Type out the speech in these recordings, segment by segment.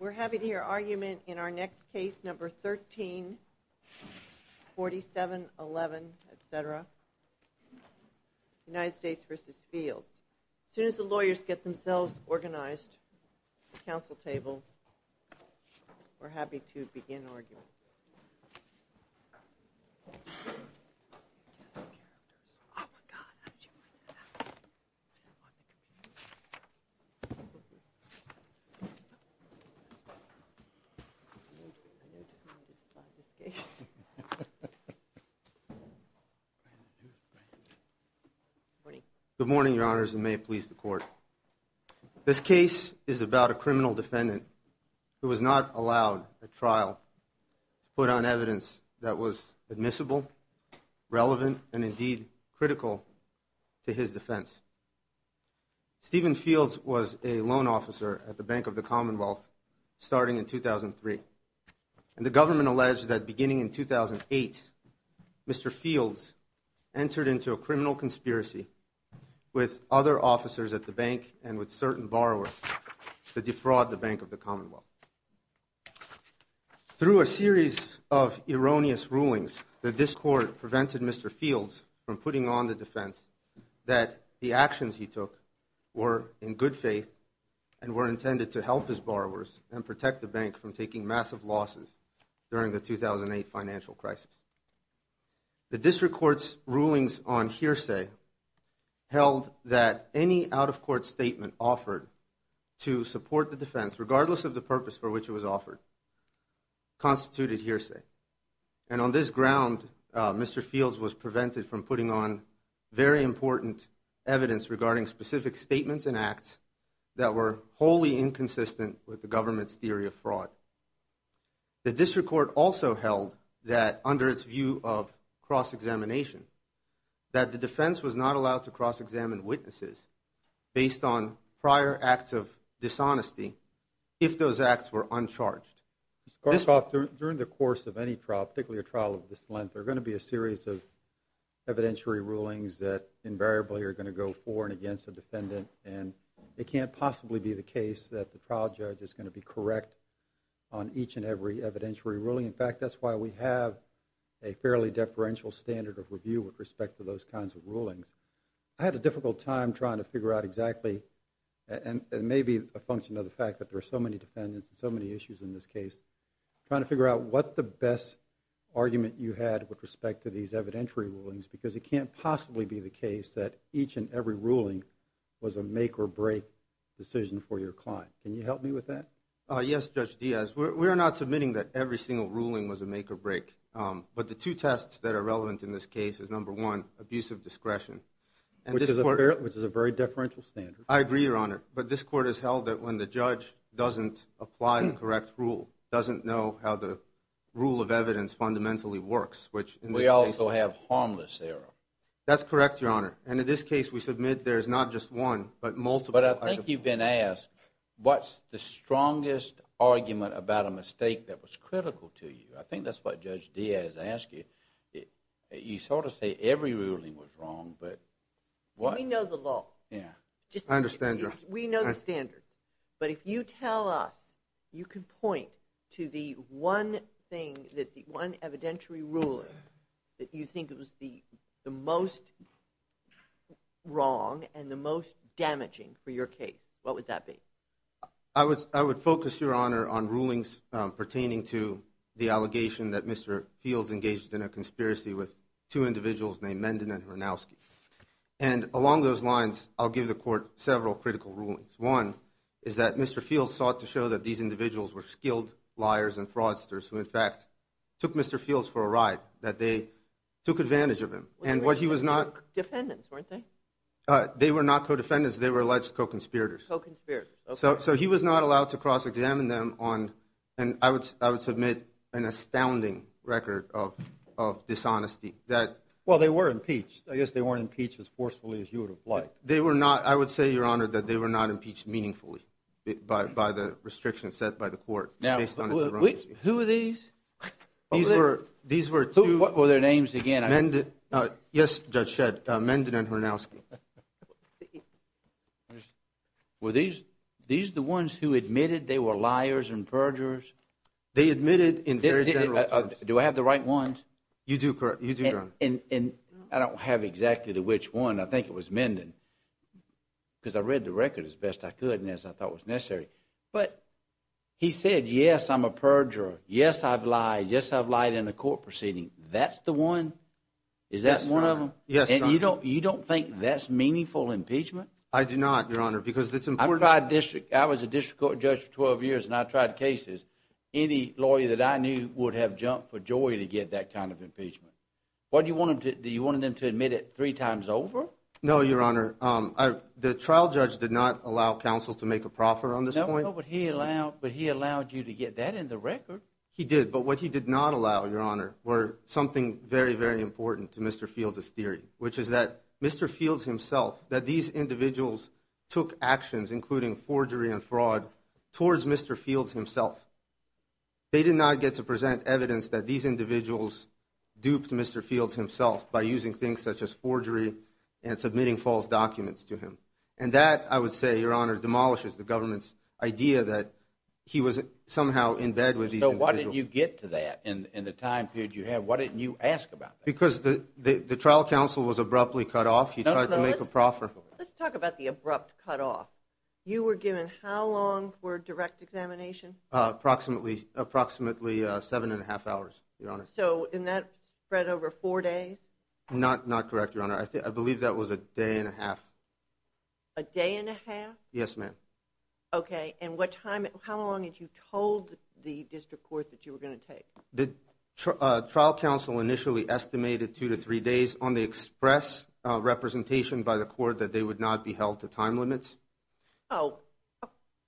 We're happy to hear argument in our next case, number 134711, etc. United States v. Fields. As soon as the lawyers get themselves organized at the council table, we're happy to begin argument. Good morning, your honors, and may it please the court. This case is about a criminal defendant who was not allowed at trial to put on evidence that was admissible, relevant, and indeed critical to his defense. Stephen Fields was a loan officer at the Bank of the Commonwealth starting in 2003, and the government alleged that beginning in 2008, Mr. Fields entered into a criminal conspiracy with other officers at the bank and with certain borrowers to defraud the Bank of the Commonwealth. Through a series of erroneous rulings, the district court prevented Mr. Fields from putting on the defense that the actions he took were in good faith and were intended to help his borrowers and protect the bank from taking massive losses during the 2008 financial crisis. The district court's rulings on hearsay held that any out-of-court statement offered to support the defense, regardless of the purpose for which it was offered, constituted hearsay. And on this ground, Mr. Fields was prevented from putting on very important evidence regarding specific statements and acts that were wholly inconsistent with the government's theory of fraud. The district court also held that, under its view of cross-examination, that the defense was not allowed to cross-examine witnesses based on prior acts of dishonesty if those acts were uncharged. During the course of any trial, particularly a trial of this length, there are going to be a series of evidentiary rulings that invariably are going to go for and it can't possibly be the case that the trial judge is going to be correct on each and every evidentiary ruling. In fact, that's why we have a fairly deferential standard of review with respect to those kinds of rulings. I had a difficult time trying to figure out exactly, and it may be a function of the fact that there are so many defendants and so many issues in this case, trying to figure out what the best argument you had with respect to these evidentiary rulings because it can't possibly be the case that each and every ruling was a make-or-break decision for your client. Can you help me with that? Yes, Judge Diaz. We are not submitting that every single ruling was a make-or-break. But the two tests that are relevant in this case is, number one, abusive discretion. Which is a very deferential standard. I agree, Your Honor. But this court has held that when the judge doesn't apply the correct rule, doesn't know how the rule of evidence fundamentally works. We also have harmless error. That's correct, Your Honor. And in this case, we submit there's not just one, but multiple. But I think you've been asked, what's the strongest argument about a mistake that was critical to you? I think that's what Judge Diaz asked you. You sort of say every ruling was wrong, but... We know the law. Yeah. I understand, Your Honor. We know the standard. But if you tell us, you can point to the one thing, the one evidentiary ruler that you think was the most wrong and the most damaging for your case. What would that be? I would focus, Your Honor, on rulings pertaining to the allegation that Mr. Fields engaged in a conspiracy with two individuals named Menden and Hrnowski. And along those lines, I'll give the court several critical rulings. One is that Mr. Fields sought to show that these individuals were skilled liars and fraudsters who, in fact, took Mr. Fields for a ride, that they took advantage of him. And what he was not... They were co-defendants, weren't they? They were not co-defendants. They were alleged co-conspirators. Co-conspirators. So he was not allowed to cross-examine them on, and I would submit, an astounding record of dishonesty that... Well, they were impeached. I guess they weren't impeached as forcefully as you would have liked. They were not... I would say, Your Honor, that they were not impeached meaningfully by the restrictions set by the court. Now, who are these? These were two... What were their names again? Menden... Yes, Judge Shedd. Menden and Hrnowski. Were these the ones who admitted they were liars and perjurers? Do I have the right ones? You do, Your Honor. And I don't have exactly which one. I think it was Menden, because I read the record as best I could and as I thought was necessary. But he said, yes, I'm a perjurer. Yes, I've lied. Yes, I've lied in a court proceeding. That's the one? Yes, Your Honor. Is that one of them? Yes, Your Honor. And you don't think that's meaningful impeachment? I do not, Your Honor, because it's important... I tried district... I was a district court judge for 12 years, and I tried cases. Any lawyer that I knew would have jumped for joy to get that kind of impeachment. Do you want them to admit it three times over? No, Your Honor. The trial judge did not allow counsel to make a proffer on this point. No, but he allowed you to get that in the record. He did. But what he did not allow, Your Honor, were something very, very important to Mr. Fields' theory, which is that Mr. Fields himself, that these individuals took actions, including forgery and fraud, towards Mr. Fields himself. They did not get to present evidence that these individuals duped Mr. Fields himself by using things such as forgery and submitting false documents to him. And that, I would say, Your Honor, demolishes the government's idea that he was somehow in bed with these individuals. So why didn't you get to that in the time period you had? Why didn't you ask about that? Because the trial counsel was abruptly cut off. He tried to make a proffer. Let's talk about the abrupt cutoff. You were given how long for direct examination? Approximately seven and a half hours, Your Honor. So in that spread over four days? Not correct, Your Honor. I believe that was a day and a half. A day and a half? Yes, ma'am. Okay. And what time, how long had you told the district court that you were going to take? The trial counsel initially estimated two to three days on the express representation by the court that they would not be held to time limits. Oh,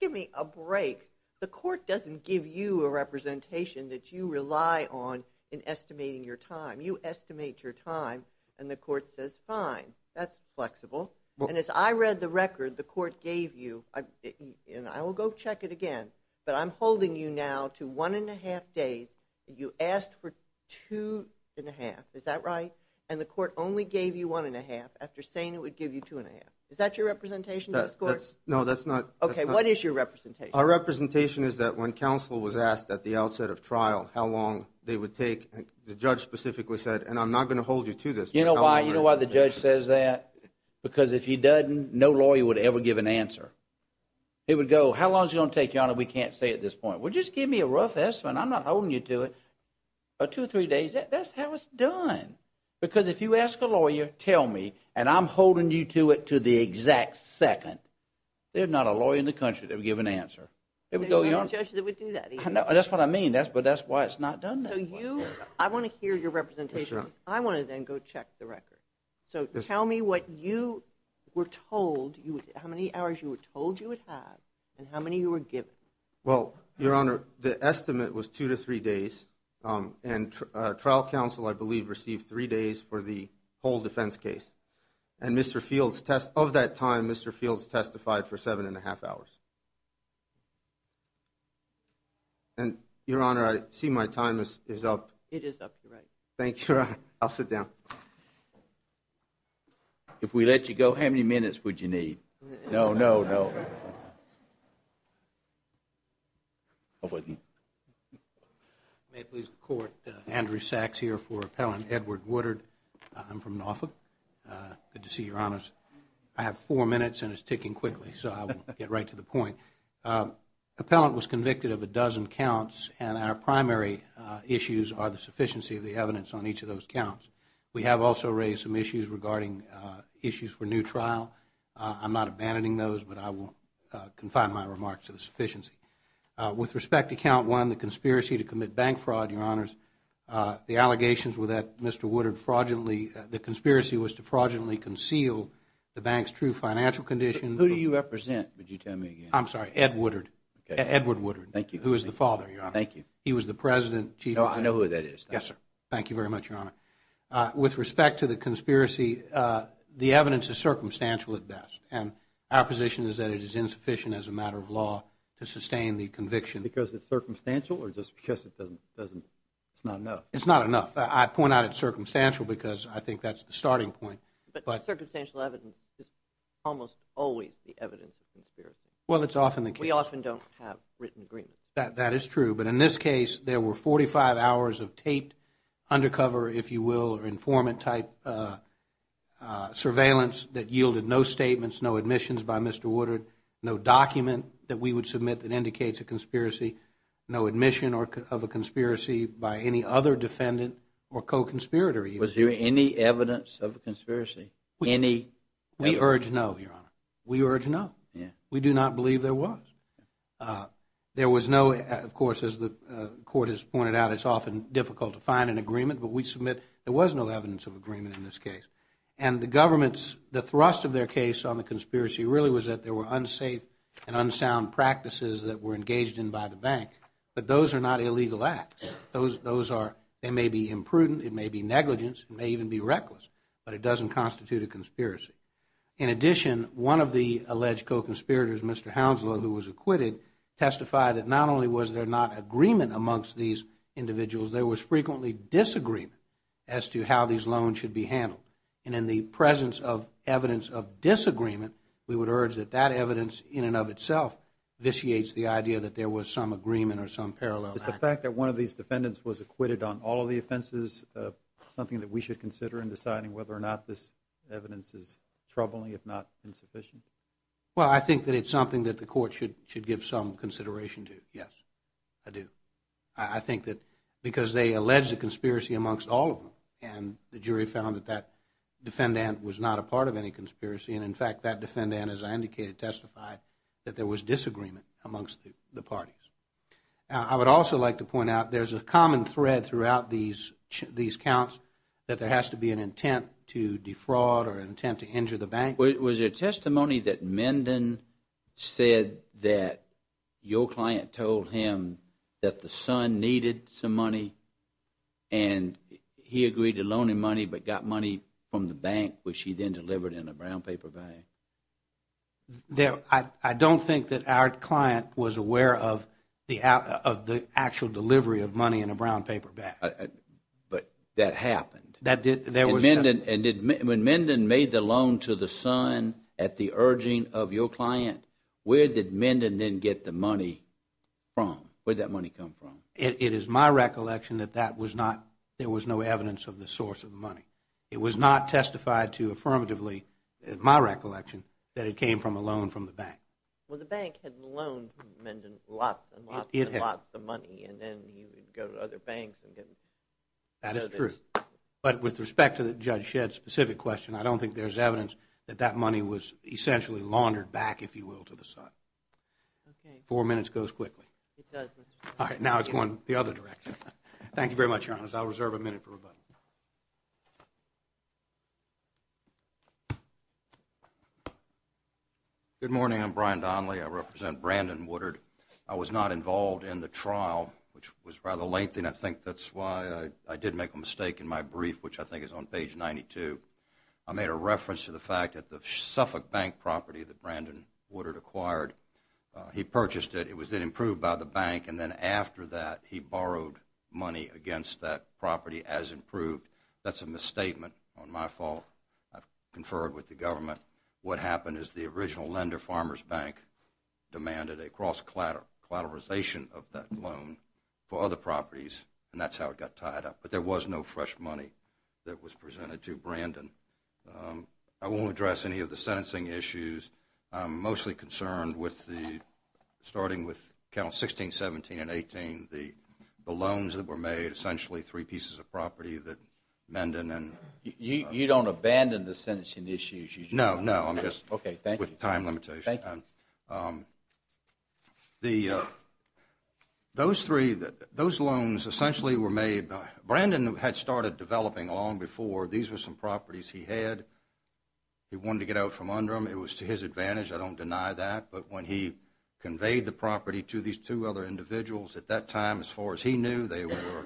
give me a break. The court doesn't give you a representation that you rely on in estimating your time. You estimate your time, and the court says, fine, that's flexible. And as I read the record the court gave you, and I will go check it again, but I'm holding you now to one and a half days. You asked for two and a half. Is that right? And the court only gave you one and a half after saying it would give you two and a half. Is that your representation to the court? No, that's not. Okay, what is your representation? Our representation is that when counsel was asked at the outset of trial how long they would take, the judge specifically said, and I'm not going to hold you to this. You know why the judge says that? Because if he doesn't, no lawyer would ever give an answer. He would go, how long is it going to take, Your Honor? We can't say at this point. Well, just give me a rough estimate. I'm not holding you to it. Two or three days, that's how it's done. Because if you ask a lawyer, tell me, and I'm holding you to it to the exact second, there's not a lawyer in the country that would give an answer. There's not a judge that would do that either. That's what I mean, but that's why it's not done that way. I want to hear your representation. I want to then go check the record. So tell me what you were told, how many hours you were told you would have, and how many you were given. Well, Your Honor, the estimate was two to three days, and trial counsel, I believe, received three days for the whole defense case. And Mr. Fields, of that time, Mr. Fields testified for seven and a half hours. And, Your Honor, I see my time is up. It is up, you're right. Thank you, Your Honor. I'll sit down. If we let you go, how many minutes would you need? No, no, no. I wouldn't. May it please the Court, Andrew Sachs here for Appellant Edward Woodard. I'm from NAWFA. Good to see you, Your Honors. I have four minutes, and it's ticking quickly, so I'll get right to the point. Appellant was convicted of a dozen counts, and our primary issues are the sufficiency of the evidence on each of those counts. We have also raised some issues regarding issues for new trial. I'm not abandoning those, but I will confine my remarks to the sufficiency. With respect to Count 1, the conspiracy to commit bank fraud, Your Honors, the allegations were that Mr. Woodard fraudulently, the conspiracy was to fraudulently conceal the bank's true financial conditions. Who do you represent, would you tell me again? I'm sorry, Edward Woodard. Okay. Edward Woodard. Thank you. Who is the father, Your Honor. Thank you. He was the president. No, I know who that is. Yes, sir. Thank you very much, Your Honor. With respect to the conspiracy, the evidence is circumstantial at best, and our position is that it is insufficient as a matter of law to sustain the conviction. Because it's circumstantial or just because it doesn't, it's not enough? It's not enough. I point out it's circumstantial because I think that's the starting point. But circumstantial evidence is almost always the evidence of conspiracy. Well, it's often the case. We often don't have written agreements. That is true. But in this case, there were 45 hours of taped undercover, if you will, or informant type surveillance that yielded no statements, no admissions by Mr. Woodard, no document that we would submit that indicates a conspiracy, no admission of a conspiracy by any other defendant or co-conspirator. Was there any evidence of a conspiracy? We urge no, Your Honor. We urge no. We do not believe there was. There was no, of course, as the Court has pointed out, it's often difficult to find an agreement, but we submit there was no evidence of agreement in this case. And the government's, the thrust of their case on the conspiracy really was that there were unsafe and unsound practices that were engaged in by the bank. But those are not illegal acts. Those are, they may be imprudent, it may be negligence, it may even be reckless, but it doesn't constitute a conspiracy. In addition, one of the alleged co-conspirators, Mr. Hounslow, who was acquitted, testified that not only was there not agreement amongst these individuals, there was frequently disagreement as to how these loans should be handled. And in the presence of evidence of disagreement, we would urge that that evidence in and of itself vitiates the idea that there was some agreement or some parallel. Is the fact that one of these defendants was acquitted on all of the offenses something that we should consider in deciding whether or not this evidence is troubling, if not insufficient? Well, I think that it's something that the court should give some consideration to, yes. I do. I think that because they alleged a conspiracy amongst all of them, and the jury found that that defendant was not a part of any conspiracy, and in fact that defendant, as I indicated, testified that there was disagreement amongst the parties. I would also like to point out there's a common thread throughout these counts that there has to be an intent to defraud or an intent to injure the bank. Was there testimony that Menden said that your client told him that the son needed some money and he agreed to loan him money but got money from the bank, which he then delivered in a brown paper bag? I don't think that our client was aware of the actual delivery of money in a brown paper bag. But that happened. When Menden made the loan to the son at the urging of your client, where did Menden then get the money from? Where did that money come from? It is my recollection that there was no evidence of the source of the money. It was not testified to affirmatively, in my recollection, that it came from a loan from the bank. Well, the bank had loaned Menden lots and lots and lots of money, and then he would go to other banks and get it. That is true. But with respect to Judge Shedd's specific question, I don't think there's evidence that that money was essentially laundered back, if you will, to the son. Okay. Four minutes goes quickly. It does, Mr. Shedd. All right, now it's going the other direction. Thank you very much, Your Honor. I'll reserve a minute for rebuttal. Good morning. I'm Brian Donnelly. I represent Brandon Woodard. I was not involved in the trial, which was rather lengthy, and I think that's why I did make a mistake in my brief, which I think is on page 92. I made a reference to the fact that the Suffolk Bank property that Brandon Woodard acquired, he purchased it. It was then improved by the bank, and then after that, he borrowed money against that property as improved. That's a misstatement on my fault. I've conferred with the government. What happened is the original lender, Farmers Bank, demanded a cross-collateralization of that loan for other properties, and that's how it got tied up. But there was no fresh money that was presented to Brandon. I won't address any of the sentencing issues. I'm mostly concerned with starting with Counts 16, 17, and 18, the loans that were made, essentially three pieces of property that Menden and— You don't abandon the sentencing issues? No, no, I'm just— Okay, thank you. —with time limitations. Thank you. Those loans essentially were made—Brandon had started developing long before. These were some properties he had. He wanted to get out from under them. It was to his advantage. I don't deny that. But when he conveyed the property to these two other individuals, at that time, as far as he knew, they were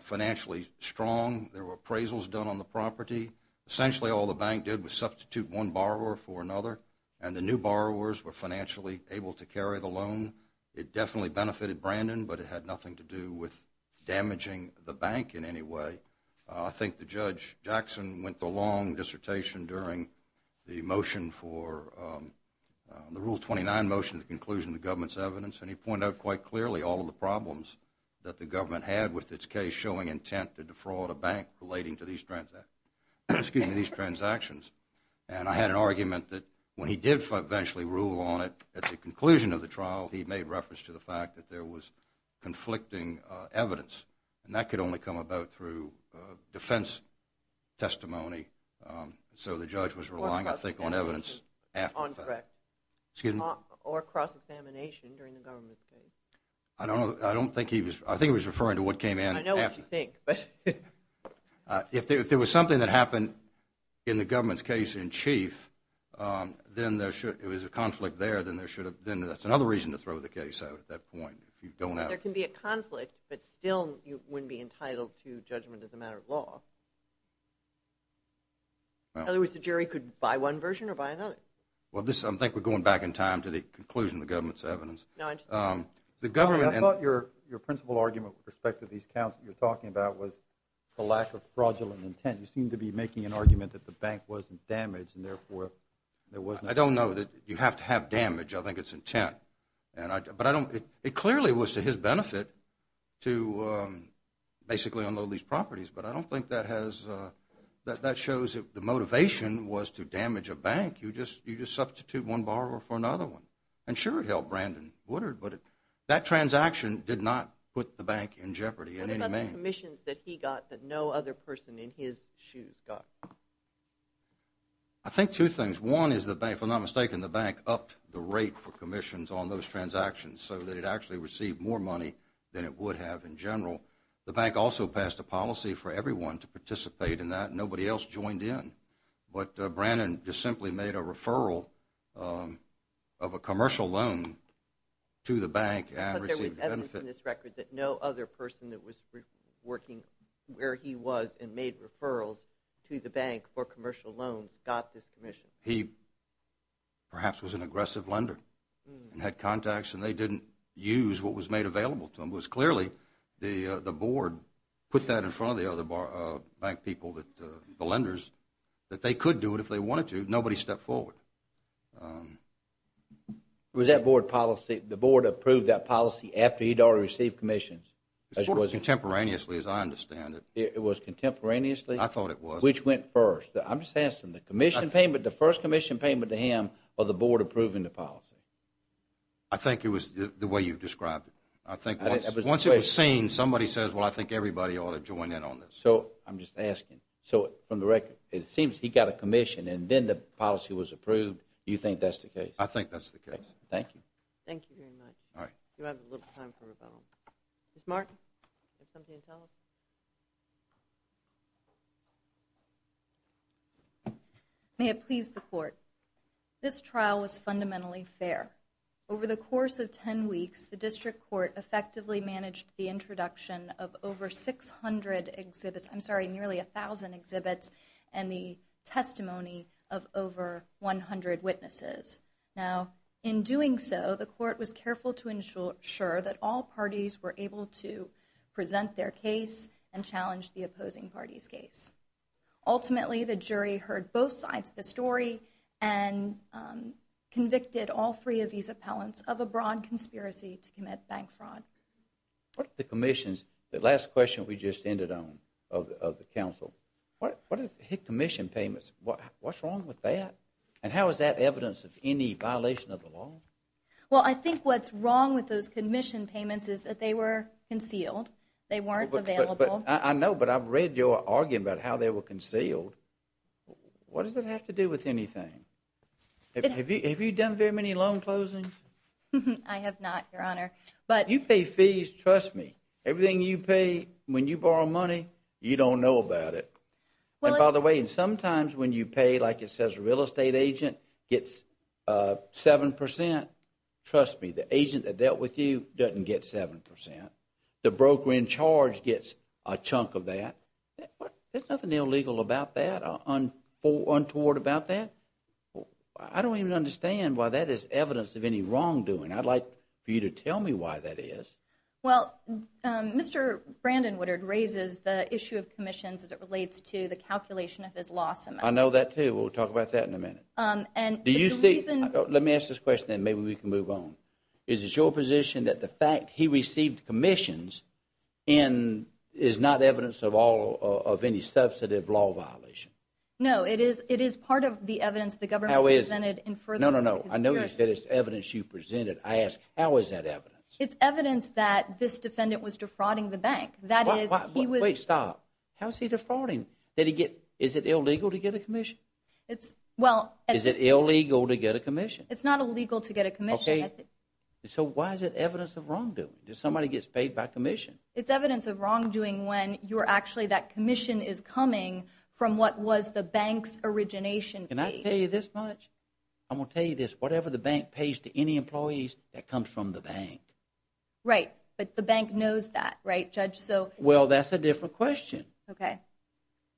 financially strong. There were appraisals done on the property. Essentially, all the bank did was substitute one borrower for another, and the new borrowers were financially able to carry the loan. It definitely benefited Brandon, but it had nothing to do with damaging the bank in any way. I think the judge, Jackson, went through a long dissertation during the motion for— the Rule 29 motion, the conclusion of the government's evidence, and he pointed out quite clearly all of the problems that the government had with its case, showing intent to defraud a bank relating to these transactions. And I had an argument that when he did eventually rule on it at the conclusion of the trial, he made reference to the fact that there was conflicting evidence, and that could only come about through defense testimony. So the judge was relying, I think, on evidence after the fact. Or cross-examination during the government's case. I don't think he was—I think he was referring to what came in after. I know what you think, but— If there was something that happened in the government's case in chief, then there should—if there was a conflict there, then there should have— then that's another reason to throw the case out at that point if you don't have— There can be a conflict, but still you wouldn't be entitled to judgment as a matter of law. In other words, the jury could buy one version or buy another. Well, this is—I think we're going back in time to the conclusion of the government's evidence. No, I just— The government— I thought your principal argument with respect to these counts that you were talking about was the lack of fraudulent intent. You seem to be making an argument that the bank wasn't damaged, and therefore there was no— I don't know that you have to have damage. I think it's intent. But I don't—it clearly was to his benefit to basically unload these properties, but I don't think that has—that shows that the motivation was to damage a bank. You just substitute one borrower for another one. And sure, it helped Brandon Woodard, but that transaction did not put the bank in jeopardy in any manner. What about the commissions that he got that no other person in his shoes got? I think two things. One is the bank—if I'm not mistaken, the bank upped the rate for commissions on those transactions so that it actually received more money than it would have in general. The bank also passed a policy for everyone to participate in that. Nobody else joined in. But Brandon just simply made a referral of a commercial loan to the bank and received the benefit. But there was evidence in this record that no other person that was working where he was and made referrals to the bank for commercial loans got this commission. He perhaps was an aggressive lender and had contacts, and they didn't use what was made available to them. It was clearly the board put that in front of the other bank people, the lenders, that they could do it if they wanted to. Nobody stepped forward. Was that board policy—the board approved that policy after he'd already received commissions? Sort of contemporaneously, as I understand it. It was contemporaneously? I thought it was. Which went first? I'm just asking. The commission payment, the first commission payment to him, or the board approving the policy? I think it was the way you've described it. I think once it was seen, somebody says, well, I think everybody ought to join in on this. So I'm just asking. So from the record, it seems he got a commission and then the policy was approved. You think that's the case? I think that's the case. Thank you. Thank you very much. Do I have a little time for rebuttal? Ms. Martin? Is there something to tell us? May it please the court. This trial was fundamentally fair. Over the course of 10 weeks, the district court effectively managed the introduction of over 600 exhibits— I'm sorry, nearly 1,000 exhibits and the testimony of over 100 witnesses. Now, in doing so, the court was careful to ensure that all parties were able to present their case and challenge the opposing party's case. Ultimately, the jury heard both sides of the story and convicted all three of these appellants of a broad conspiracy to commit bank fraud. What if the commission's—the last question we just ended on, of the counsel, what if they hit commission payments? What's wrong with that? And how is that evidence of any violation of the law? Well, I think what's wrong with those commission payments is that they were concealed. They weren't available. I know, but I've read your argument about how they were concealed. What does that have to do with anything? Have you done very many loan closings? I have not, Your Honor, but— You pay fees, trust me. Everything you pay, when you borrow money, you don't know about it. And by the way, sometimes when you pay, like it says, real estate agent gets 7 percent, trust me, the agent that dealt with you doesn't get 7 percent. The broker in charge gets a chunk of that. There's nothing illegal about that, untoward about that. I don't even understand why that is evidence of any wrongdoing. I'd like for you to tell me why that is. Well, Mr. Brandon Woodard raises the issue of commissions as it relates to the calculation of his loss amount. I know that, too. We'll talk about that in a minute. Do you see— Let me ask this question, then maybe we can move on. Is it your position that the fact he received commissions is not evidence of any substantive law violation? No, it is part of the evidence the government presented in furtherance of the conspiracy. No, no, no. I know you said it's evidence you presented. I ask, how is that evidence? It's evidence that this defendant was defrauding the bank. That is, he was— Wait, stop. How is he defrauding? Is it illegal to get a commission? It's not illegal to get a commission. So why is it evidence of wrongdoing? Somebody gets paid by commission. It's evidence of wrongdoing when you're actually—that commission is coming from what was the bank's origination fee. Can I tell you this much? I'm going to tell you this. Whatever the bank pays to any employees, that comes from the bank. Right, but the bank knows that, right, Judge? Well, that's a different question. Okay.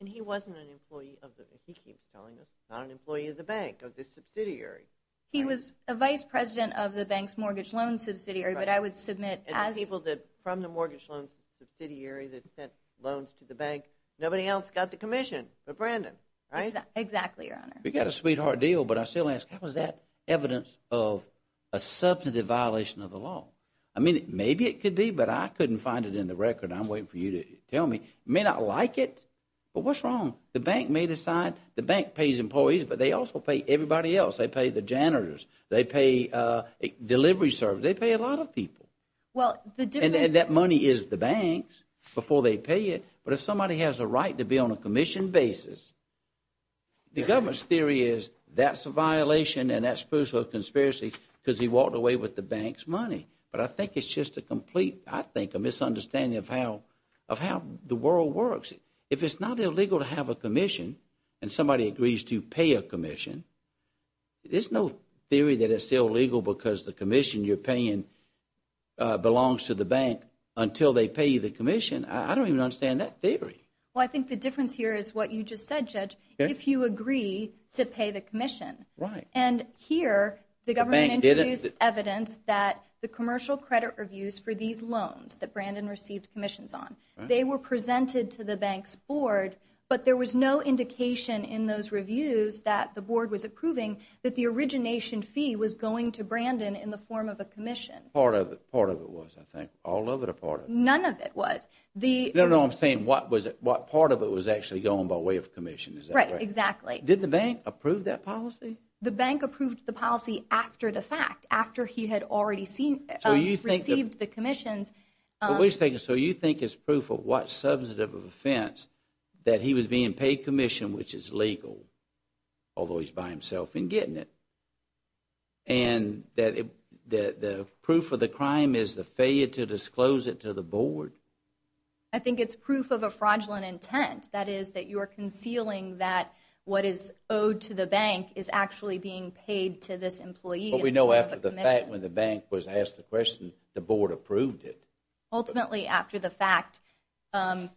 And he wasn't an employee of the—he keeps telling us, not an employee of the bank, of the subsidiary. He was a vice president of the bank's mortgage loan subsidiary, but I would submit as— And the people from the mortgage loan subsidiary that sent loans to the bank, nobody else got the commission but Brandon, right? Exactly, Your Honor. We got a sweetheart deal, but I still ask, how is that evidence of a substantive violation of the law? I mean, maybe it could be, but I couldn't find it in the record. I'm waiting for you to tell me. You may not like it, but what's wrong? The bank may decide—the bank pays employees, but they also pay everybody else. They pay the janitors. They pay delivery service. They pay a lot of people. Well, the difference— And that money is the bank's before they pay it, but if somebody has a right to be on a commission basis, the government's theory is that's a violation and that's supposed to be a conspiracy because he walked away with the bank's money. But I think it's just a complete—I think a misunderstanding of how the world works. If it's not illegal to have a commission and somebody agrees to pay a commission, there's no theory that it's illegal because the commission you're paying belongs to the bank until they pay the commission. I don't even understand that theory. Well, I think the difference here is what you just said, Judge, if you agree to pay the commission. Right. And here the government introduced evidence that the commercial credit reviews for these loans that Brandon received commissions on, they were presented to the bank's board, but there was no indication in those reviews that the board was approving that the origination fee was going to Brandon in the form of a commission. Part of it was, I think. All of it or part of it? None of it was. No, no, I'm saying what part of it was actually going by way of commission. Is that right? Right, exactly. Did the bank approve that policy? The bank approved the policy after the fact, after he had already received the commissions. So you think it's proof of what substantive offense that he was being paid commission, which is legal, although he's by himself in getting it, and that the proof of the crime is the failure to disclose it to the board? I think it's proof of a fraudulent intent. That is, that you are concealing that what is owed to the bank is actually being paid to this employee in the form of a commission. But we know after the fact, when the bank was asked the question, the board approved it. Ultimately, after the fact, the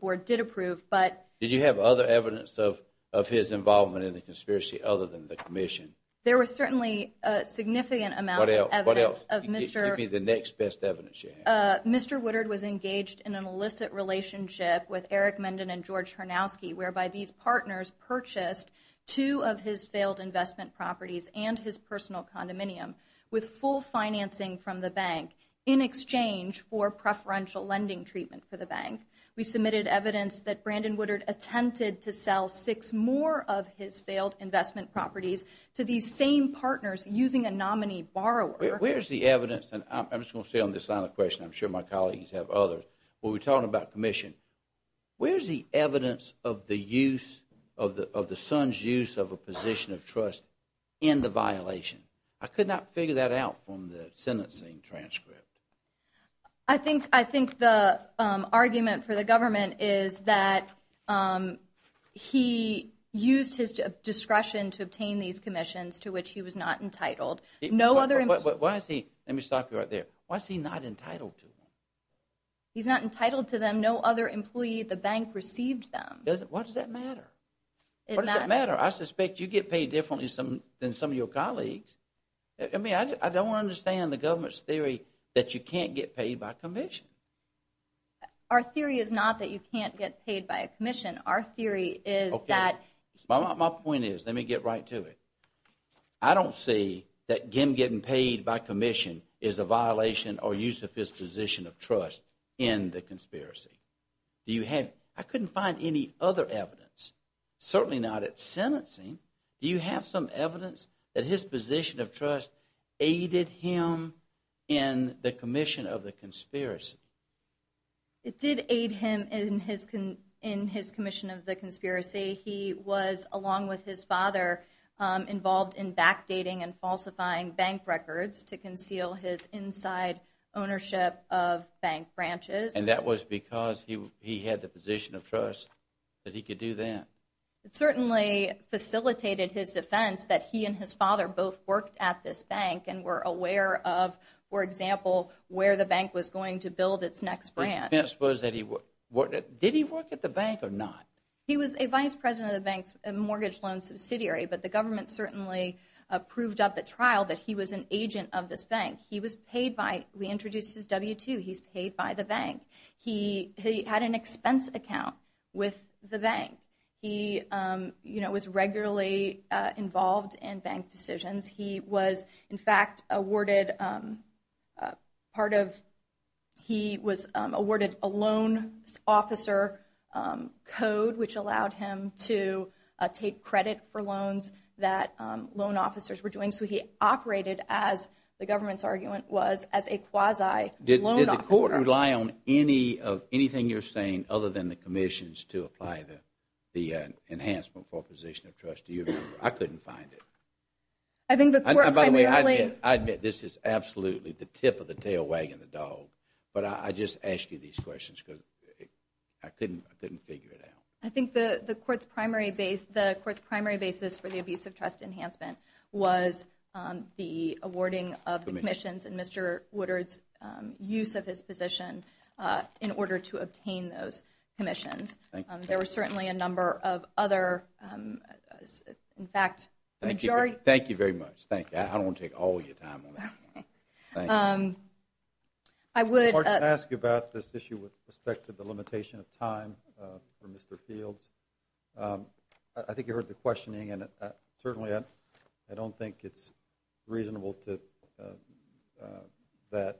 board did approve, but. Did you have other evidence of his involvement in the conspiracy other than the commission? There was certainly a significant amount of evidence of Mr. Give me the next best evidence you have. Mr. Woodard was engaged in an illicit relationship with Eric Mendon and George Harnowski, whereby these partners purchased two of his failed investment properties and his personal condominium with full financing from the bank in exchange for preferential lending treatment for the bank. We submitted evidence that Brandon Woodard attempted to sell six more of his failed investment properties to these same partners using a nominee borrower. Where's the evidence? And I'm just going to stay on this side of the question. I'm sure my colleagues have others. Well, we're talking about commission. Where's the evidence of the use of the of the son's use of a position of trust in the violation? I could not figure that out from the sentencing transcript. I think I think the argument for the government is that he used his discretion to obtain these commissions to which he was not entitled. No other. Why is he? Let me stop you right there. Why is he not entitled to? He's not entitled to them. No other employee at the bank received them. What does that matter? It doesn't matter. I suspect you get paid differently than some of your colleagues. I mean, I don't understand the government's theory that you can't get paid by commission. Our theory is not that you can't get paid by a commission. Our theory is that. My point is, let me get right to it. I don't see that getting paid by commission is a violation or use of his position of trust in the conspiracy. Do you have? I couldn't find any other evidence, certainly not at sentencing. Do you have some evidence that his position of trust aided him in the commission of the conspiracy? It did aid him in his in his commission of the conspiracy. He was, along with his father, involved in backdating and falsifying bank records to conceal his inside ownership of bank branches. And that was because he had the position of trust that he could do that. It certainly facilitated his defense that he and his father both worked at this bank and were aware of, for example, where the bank was going to build its next brand. Yes. Was that he did he work at the bank or not? He was a vice president of the bank's mortgage loan subsidiary. But the government certainly approved of the trial that he was an agent of this bank. He was paid by we introduced his W2. He's paid by the bank. He had an expense account with the bank. He was regularly involved in bank decisions. He was, in fact, awarded part of he was awarded a loan officer code, which allowed him to take credit for loans that loan officers were doing. So he operated, as the government's argument was, as a quasi loan officer. Did the court rely on any of anything you're saying other than the commissions to apply the enhancement for a position of trust to you? I couldn't find it. I think the court primarily. I admit this is absolutely the tip of the tail wagging the dog. But I just asked you these questions because I couldn't figure it out. I think the court's primary base, the court's primary basis for the abuse of trust enhancement was the awarding of commissions and Mr. Woodard's use of his position in order to obtain those commissions. There were certainly a number of other. In fact, thank you. Thank you very much. Thank you. I don't take all your time. I would ask you about this issue with respect to the limitation of time for Mr. Fields. I think you heard the questioning, and certainly I don't think it's reasonable to that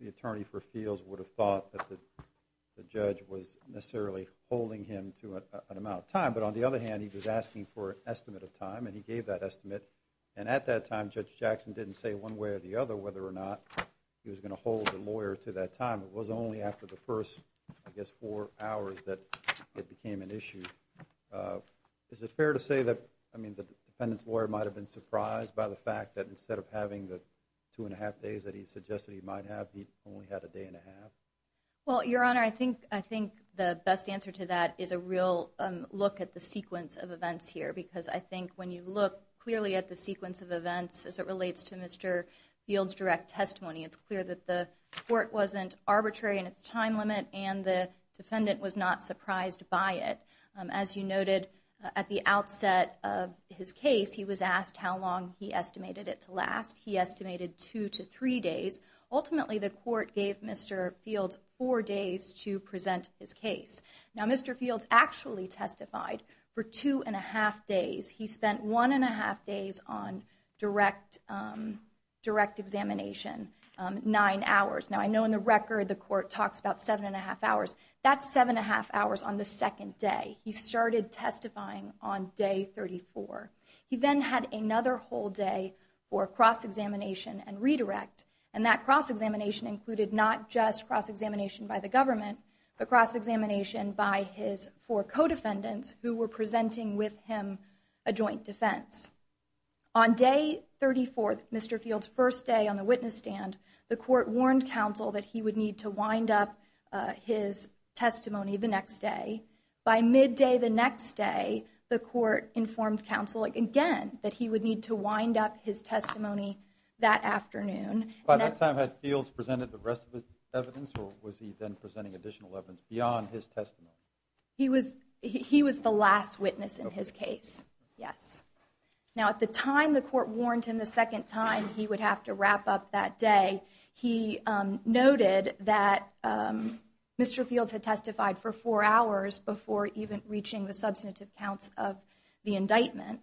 the attorney for fields would have thought that the judge was necessarily holding him to an amount of time. But on the other hand, he was asking for an estimate of time, and he gave that estimate. And at that time, Judge Jackson didn't say one way or the other whether or not he was going to hold the lawyer to that time. It was only after the first, I guess, four hours that it became an issue. Is it fair to say that, I mean, the defendant's lawyer might have been surprised by the fact that instead of having the two and a half days that he suggested he might have, he only had a day and a half? Well, Your Honor, I think the best answer to that is a real look at the sequence of events here, because I think when you look clearly at the sequence of events as it relates to Mr. Fields' direct testimony, it's clear that the court wasn't arbitrary in its time limit and the defendant was not surprised by it. As you noted, at the outset of his case, he was asked how long he estimated it to last. He estimated two to three days. Ultimately, the court gave Mr. Fields four days to present his case. Now, Mr. Fields actually testified for two and a half days. He spent one and a half days on direct examination, nine hours. Now, I know in the record, the court talks about seven and a half hours. That's seven and a half hours on the second day. He started testifying on day 34. He then had another whole day for cross-examination and redirect, and that cross-examination included not just cross-examination by the government, but cross-examination by his four co-defendants who were presenting with him a joint defense. On day 34, Mr. Fields' first day on the witness stand, the court warned counsel that he would need to wind up his testimony the next day. By midday the next day, the court informed counsel again that he would need to wind up his testimony that afternoon. By that time, had Fields presented the rest of his evidence, or was he then presenting additional evidence beyond his testimony? He was the last witness in his case, yes. Now, at the time the court warned him the second time he would have to wrap up that day, he noted that Mr. Fields had testified for four hours before even reaching the substantive counts of the indictment.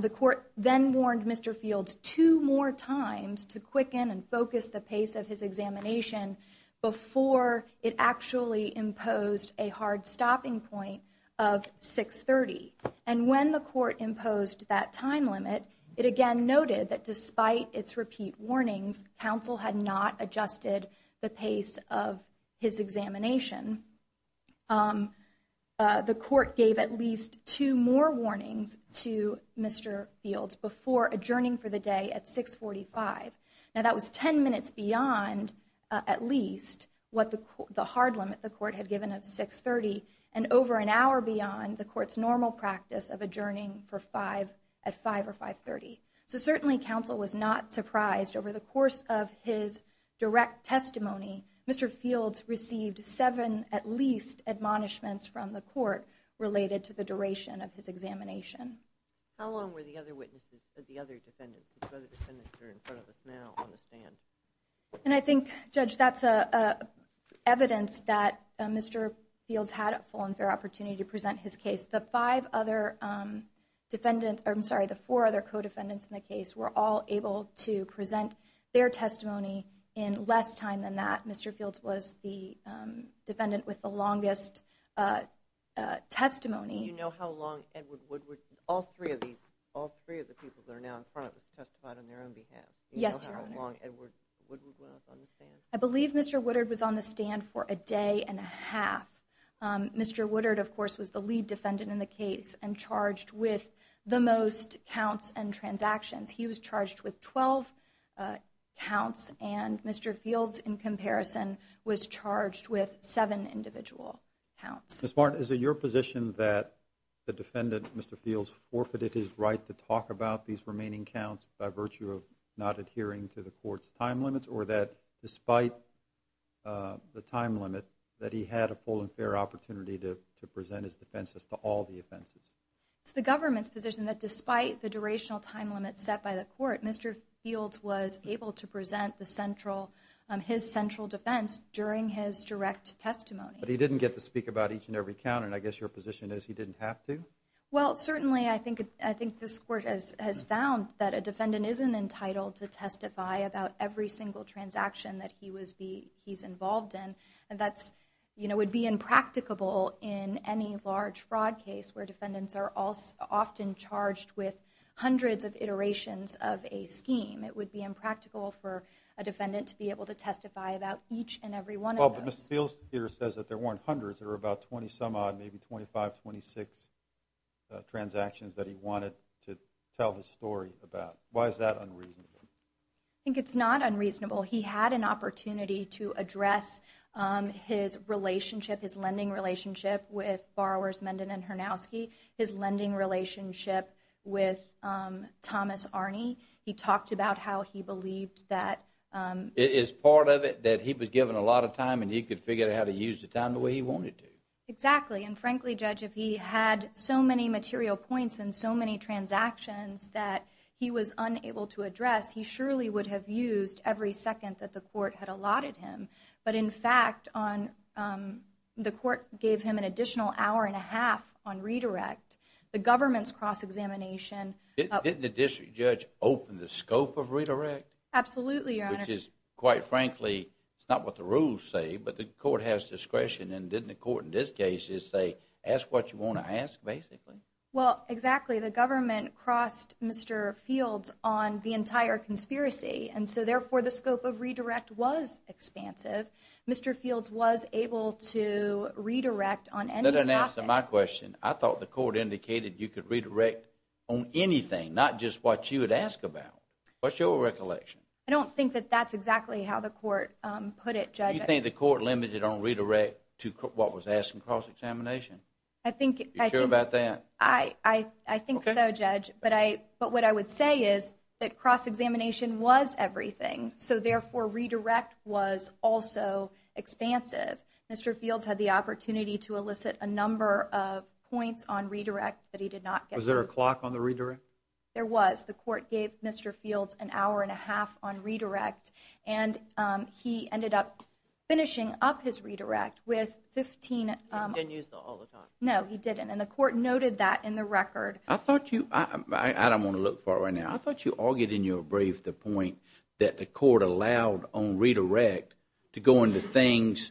The court then warned Mr. Fields two more times to quicken and focus the pace of his examination before it actually imposed a hard stopping point of 630. And when the court imposed that time limit, it again noted that despite its repeat warnings, counsel had not adjusted the pace of his examination. The court gave at least two more warnings to Mr. Fields before adjourning for the day at 645. Now that was ten minutes beyond at least what the hard limit the court had given of 630, and over an hour beyond the court's normal practice of adjourning at 5 or 530. So certainly counsel was not surprised over the course of his direct testimony, Mr. Fields received seven at least admonishments from the court related to the duration of his examination. How long were the other witnesses, the other defendants, the other defendants that are in front of us now on the stand? And I think, Judge, that's evidence that Mr. Fields had a full and fair opportunity to present his case. The five other defendants, I'm sorry, the four other co-defendants in the case were all able to present their testimony in less time than that. Mr. Fields was the defendant with the longest testimony. Do you know how long Edward Woodward, all three of these, all three of the people that are now in front of us testified on their own behalf? Yes, Your Honor. Do you know how long Edward Woodward was on the stand? I believe Mr. Woodard was on the stand for a day and a half. Mr. Woodard, of course, was the lead defendant in the case and charged with the most counts and transactions. He was charged with 12 counts, and Mr. Fields, in comparison, was charged with seven individual counts. Ms. Martin, is it your position that the defendant, Mr. Fields, forfeited his right to talk about these remaining counts by virtue of not adhering to the court's time limits, or that despite the time limit that he had a full and fair opportunity to present his defense as to all the offenses? It's the government's position that despite the durational time limit set by the court, Mr. Fields was able to present his central defense during his direct testimony. But he didn't get to speak about each and every count, and I guess your position is he didn't have to? Well, certainly, I think this court has found that a defendant isn't entitled to testify about every single transaction that he's involved in, and that would be impracticable in any large fraud case where defendants are often charged with hundreds of iterations of a scheme. It would be impractical for a defendant to be able to testify about each and every one of those. Well, but Mr. Fields here says that there weren't hundreds. There were about 20-some-odd, maybe 25, 26 transactions that he wanted to tell his story about. Why is that unreasonable? I think it's not unreasonable. He had an opportunity to address his relationship, his lending relationship, with borrowers Menden and Harnowski, his lending relationship with Thomas Arney. He talked about how he believed that… It's part of it that he was given a lot of time, and he could figure out how to use the time the way he wanted to. Exactly, and frankly, Judge, if he had so many material points and so many transactions that he was unable to address, he surely would have used every second that the court had allotted him. But in fact, the court gave him an additional hour and a half on redirect. The government's cross-examination… Didn't the district judge open the scope of redirect? Absolutely, Your Honor. Which is, quite frankly, it's not what the rules say, but the court has discretion, and didn't the court in this case just say, ask what you want to ask, basically? Well, exactly. The government crossed Mr. Fields on the entire conspiracy, and so therefore the scope of redirect was expansive. Mr. Fields was able to redirect on any topic. That doesn't answer my question. I thought the court indicated you could redirect on anything, not just what you would ask about. What's your recollection? I don't think that that's exactly how the court put it, Judge. Do you think the court limited on redirect to what was asked in cross-examination? Are you sure about that? I think so, Judge, but what I would say is that cross-examination was everything, so therefore redirect was also expansive. Mr. Fields had the opportunity to elicit a number of points on redirect that he did not get. Was there a clock on the redirect? There was. The court gave Mr. Fields an hour and a half on redirect, and he ended up finishing up his redirect with 15... He didn't use the all the time. No, he didn't, and the court noted that in the record. I don't want to look for it right now. I thought you argued in your brief the point that the court allowed on redirect to go into things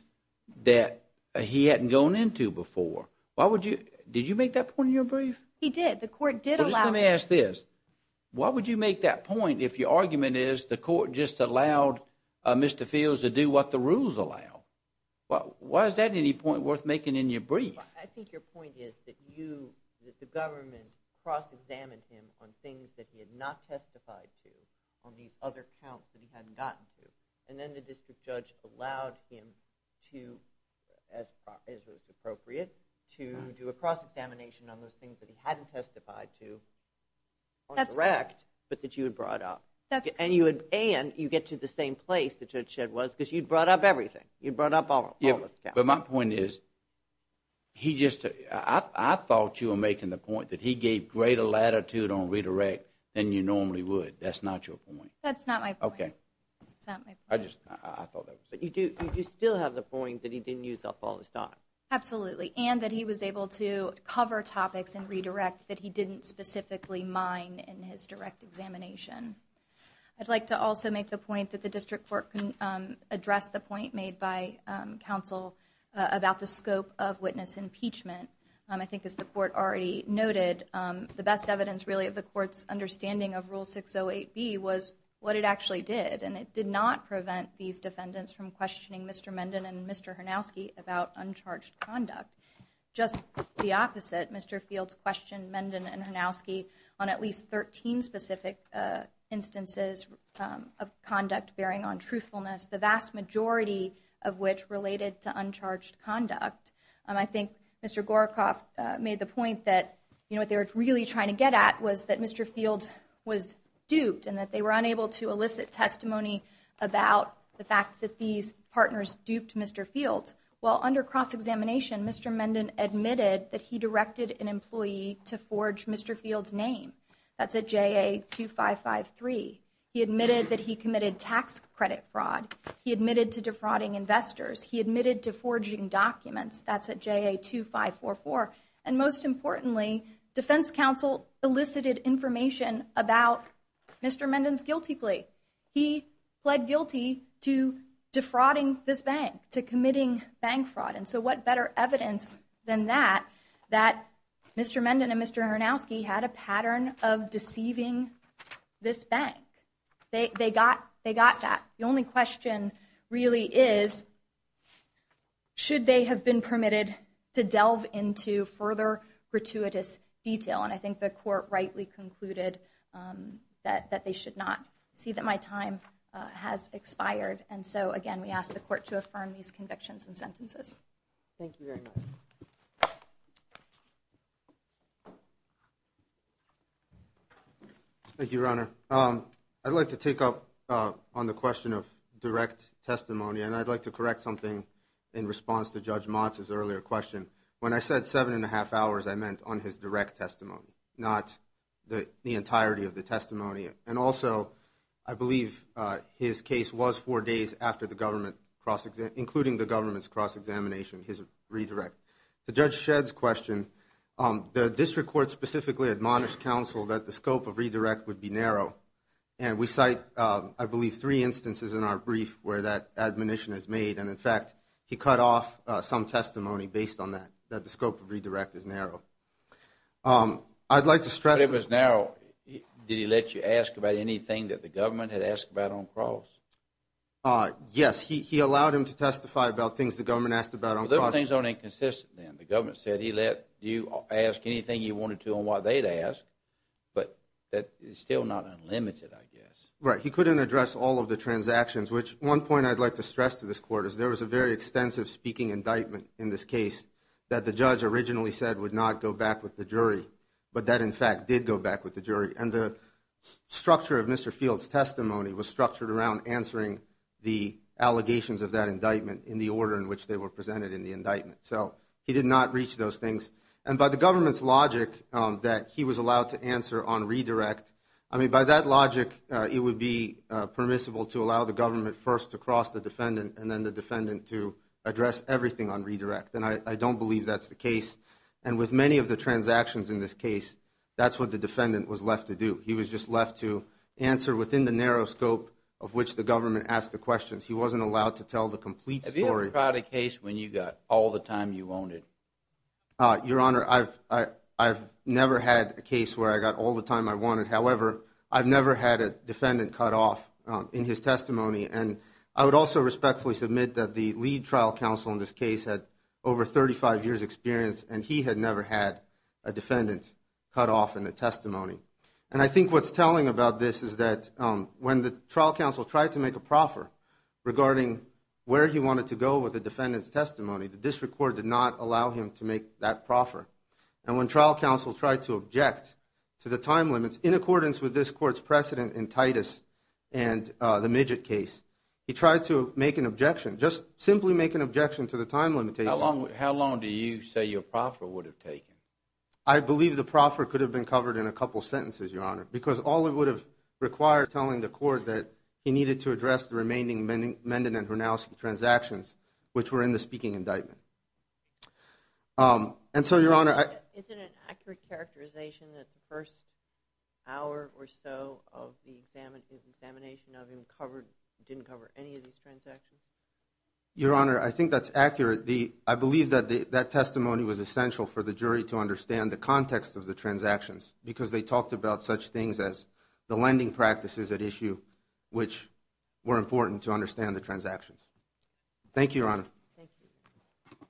that he hadn't gone into before. Did you make that point in your brief? He did. Let me ask this. Why would you make that point if your argument is the court just allowed Mr. Fields to do what the rules allow? Why is that any point worth making in your brief? I think your point is that the government cross-examined him on things that he had not testified to on these other counts that he hadn't gotten to, and then the district judge allowed him to, as was appropriate, to do a cross-examination on those things that he hadn't testified to on direct, but that you had brought up. And you get to the same place that Judge Shedd was, because you brought up everything. You brought up all the counts. But my point is, I thought you were making the point that he gave greater latitude on redirect than you normally would. That's not your point. That's not my point. Okay. That's not my point. I thought that was your point. But you do still have the point that he didn't use El Pollo's time. Absolutely, and that he was able to cover topics and redirect that he didn't specifically mine in his direct examination. I'd like to also make the point that the district court can address the point made by counsel about the scope of witness impeachment. I think, as the court already noted, the best evidence, really, of the court's understanding of Rule 608B was what it actually did, and it did not prevent these defendants from questioning Mr. Menden and Mr. Harnowski about uncharged conduct. Just the opposite, Mr. Fields questioned Menden and Harnowski on at least 13 specific instances of conduct bearing on truthfulness, the vast majority of which related to uncharged conduct. I think Mr. Gorakoff made the point that what they were really trying to get at was that Mr. Fields was duped and that they were unable to elicit testimony about the fact that these partners duped Mr. Fields. Well, under cross-examination, Mr. Menden admitted that he directed an employee to forge Mr. Fields' name. That's at JA 2553. He admitted that he committed tax credit fraud. He admitted to defrauding investors. He admitted to forging documents. That's at JA 2544. And most importantly, defense counsel elicited information about Mr. Menden's guilty plea. He pled guilty to defrauding this bank, to committing bank fraud. And so what better evidence than that that Mr. Menden and Mr. Harnowski had a pattern of deceiving this bank? They got that. The only question really is, should they have been permitted to delve into further gratuitous detail? And I think the court rightly concluded that they should not. I see that my time has expired. And so, again, we ask the court to affirm these convictions and sentences. Thank you, Your Honor. I'd like to take up on the question of direct testimony, and I'd like to correct something in response to Judge Motz's earlier question. When I said seven and a half hours, I meant on his direct testimony, not the entirety of the testimony. And also, I believe his case was four days after the government, including the government's cross-examination, his redirect. To Judge Shedd's question, the district court specifically admonished counsel that the scope of redirect would be narrow. And we cite, I believe, three instances in our brief where that admonition is made. And, in fact, he cut off some testimony based on that, that the scope of redirect is narrow. I'd like to stress- It was narrow. Did he let you ask about anything that the government had asked about on cross? Yes. He allowed him to testify about things the government asked about on cross. Well, those things aren't inconsistent then. The government said he let you ask anything you wanted to on what they'd asked, but that is still not unlimited, I guess. Right. He couldn't address all of the transactions, which one point I'd like to stress to this court is there was a very extensive speaking indictment in this case that the judge originally said would not go back with the jury, but that, in fact, did go back with the jury. And the structure of Mr. Fields' testimony was structured around answering the allegations of that indictment in the order in which they were presented in the indictment. So he did not reach those things. And by the government's logic that he was allowed to answer on redirect, I mean, by that logic, it would be permissible to allow the government first to cross the defendant and then the defendant to address everything on redirect. And I don't believe that's the case. And with many of the transactions in this case, that's what the defendant was left to do. He was just left to answer within the narrow scope of which the government asked the questions. He wasn't allowed to tell the complete story. Have you ever tried a case when you got all the time you wanted? Your Honor, I've never had a case where I got all the time I wanted. However, I've never had a defendant cut off in his testimony. And I would also respectfully submit that the lead trial counsel in this case had over 35 years experience, and he had never had a defendant cut off in the testimony. And I think what's telling about this is that when the trial counsel tried to make a proffer regarding where he wanted to go with the defendant's testimony, the district court did not allow him to make that proffer. And when trial counsel tried to object to the time limits in accordance with this court's precedent in Titus and the Midget case, he tried to make an objection, just simply make an objection to the time limitations. How long do you say your proffer would have taken? I believe the proffer could have been covered in a couple sentences, Your Honor, because all it would have required telling the court that he needed to address the remaining Menden and Hronowski transactions, which were in the speaking indictment. And so, Your Honor, Is it an accurate characterization that the first hour or so of the examination of him didn't cover any of these transactions? Your Honor, I think that's accurate. I believe that that testimony was essential for the jury to understand the context of the transactions, because they talked about such things as the lending practices at issue, which were important to understand the transactions. Thank you, Your Honor. Thank you.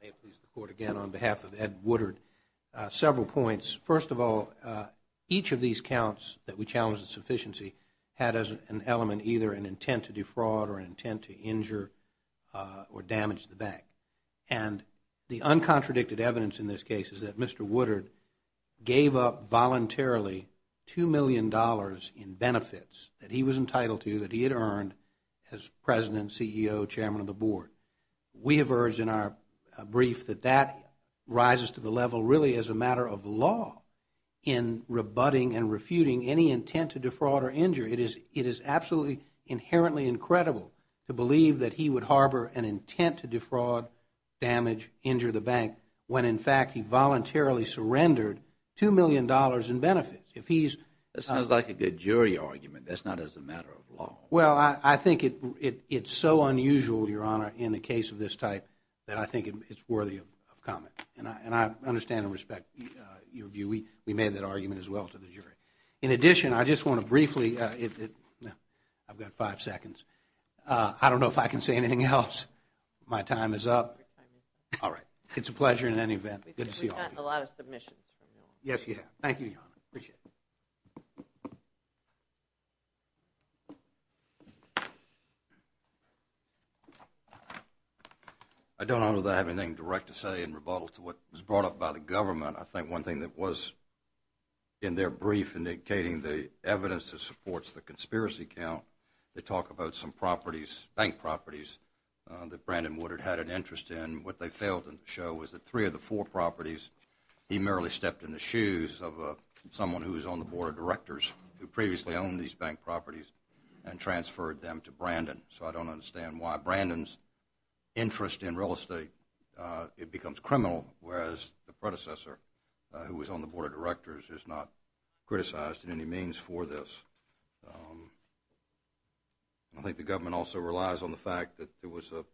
May it please the Court, again, on behalf of Ed Woodard, several points. First of all, each of these counts that we challenged the sufficiency had as an element either an intent to defraud or an intent to injure or damage the bank. And the uncontradicted evidence in this case is that Mr. Woodard gave up voluntarily $2 million in benefits that he was entitled to, that he had earned as President, CEO, Chairman of the Board. We have urged in our brief that that rises to the level really as a matter of law in rebutting and refuting any intent to defraud or injure. It is absolutely inherently incredible to believe that he would harbor an intent to defraud, damage, injure the bank, when, in fact, he voluntarily surrendered $2 million in benefits. That sounds like a good jury argument. That's not as a matter of law. Well, I think it's so unusual, Your Honor, in a case of this type that I think it's worthy of comment. And I understand and respect your view. We made that argument as well to the jury. In addition, I just want to briefly – I've got five seconds. I don't know if I can say anything else. My time is up. All right. It's a pleasure in any event. Good to see all of you. We've got a lot of submissions from you all. Yes, you have. Thank you, Your Honor. Appreciate it. I don't know that I have anything direct to say in rebuttal to what was brought up by the government. I think one thing that was in their brief indicating the evidence that supports the conspiracy count, they talk about some properties, bank properties, that Brandon Woodard had an interest in. What they failed to show was that three of the four properties, he merely stepped in the shoes of someone who was on the board of directors who previously owned these bank properties and transferred them to Brandon. So I don't understand why Brandon's interest in real estate, it becomes criminal, whereas the predecessor who was on the board of directors is not criticized in any means for this. I think the government also relies on the fact that there was a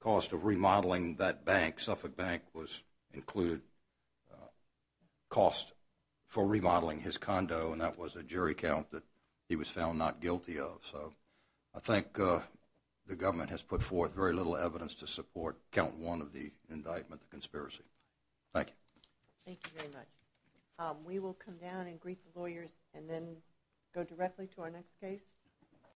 cost of remodeling that bank, Suffolk Bank was included, cost for remodeling his condo, and that was a jury count that he was found not guilty of. So I think the government has put forth very little evidence to support count one of the indictment, the conspiracy. Thank you. Thank you very much. We will come down and greet the lawyers and then go directly to our next case.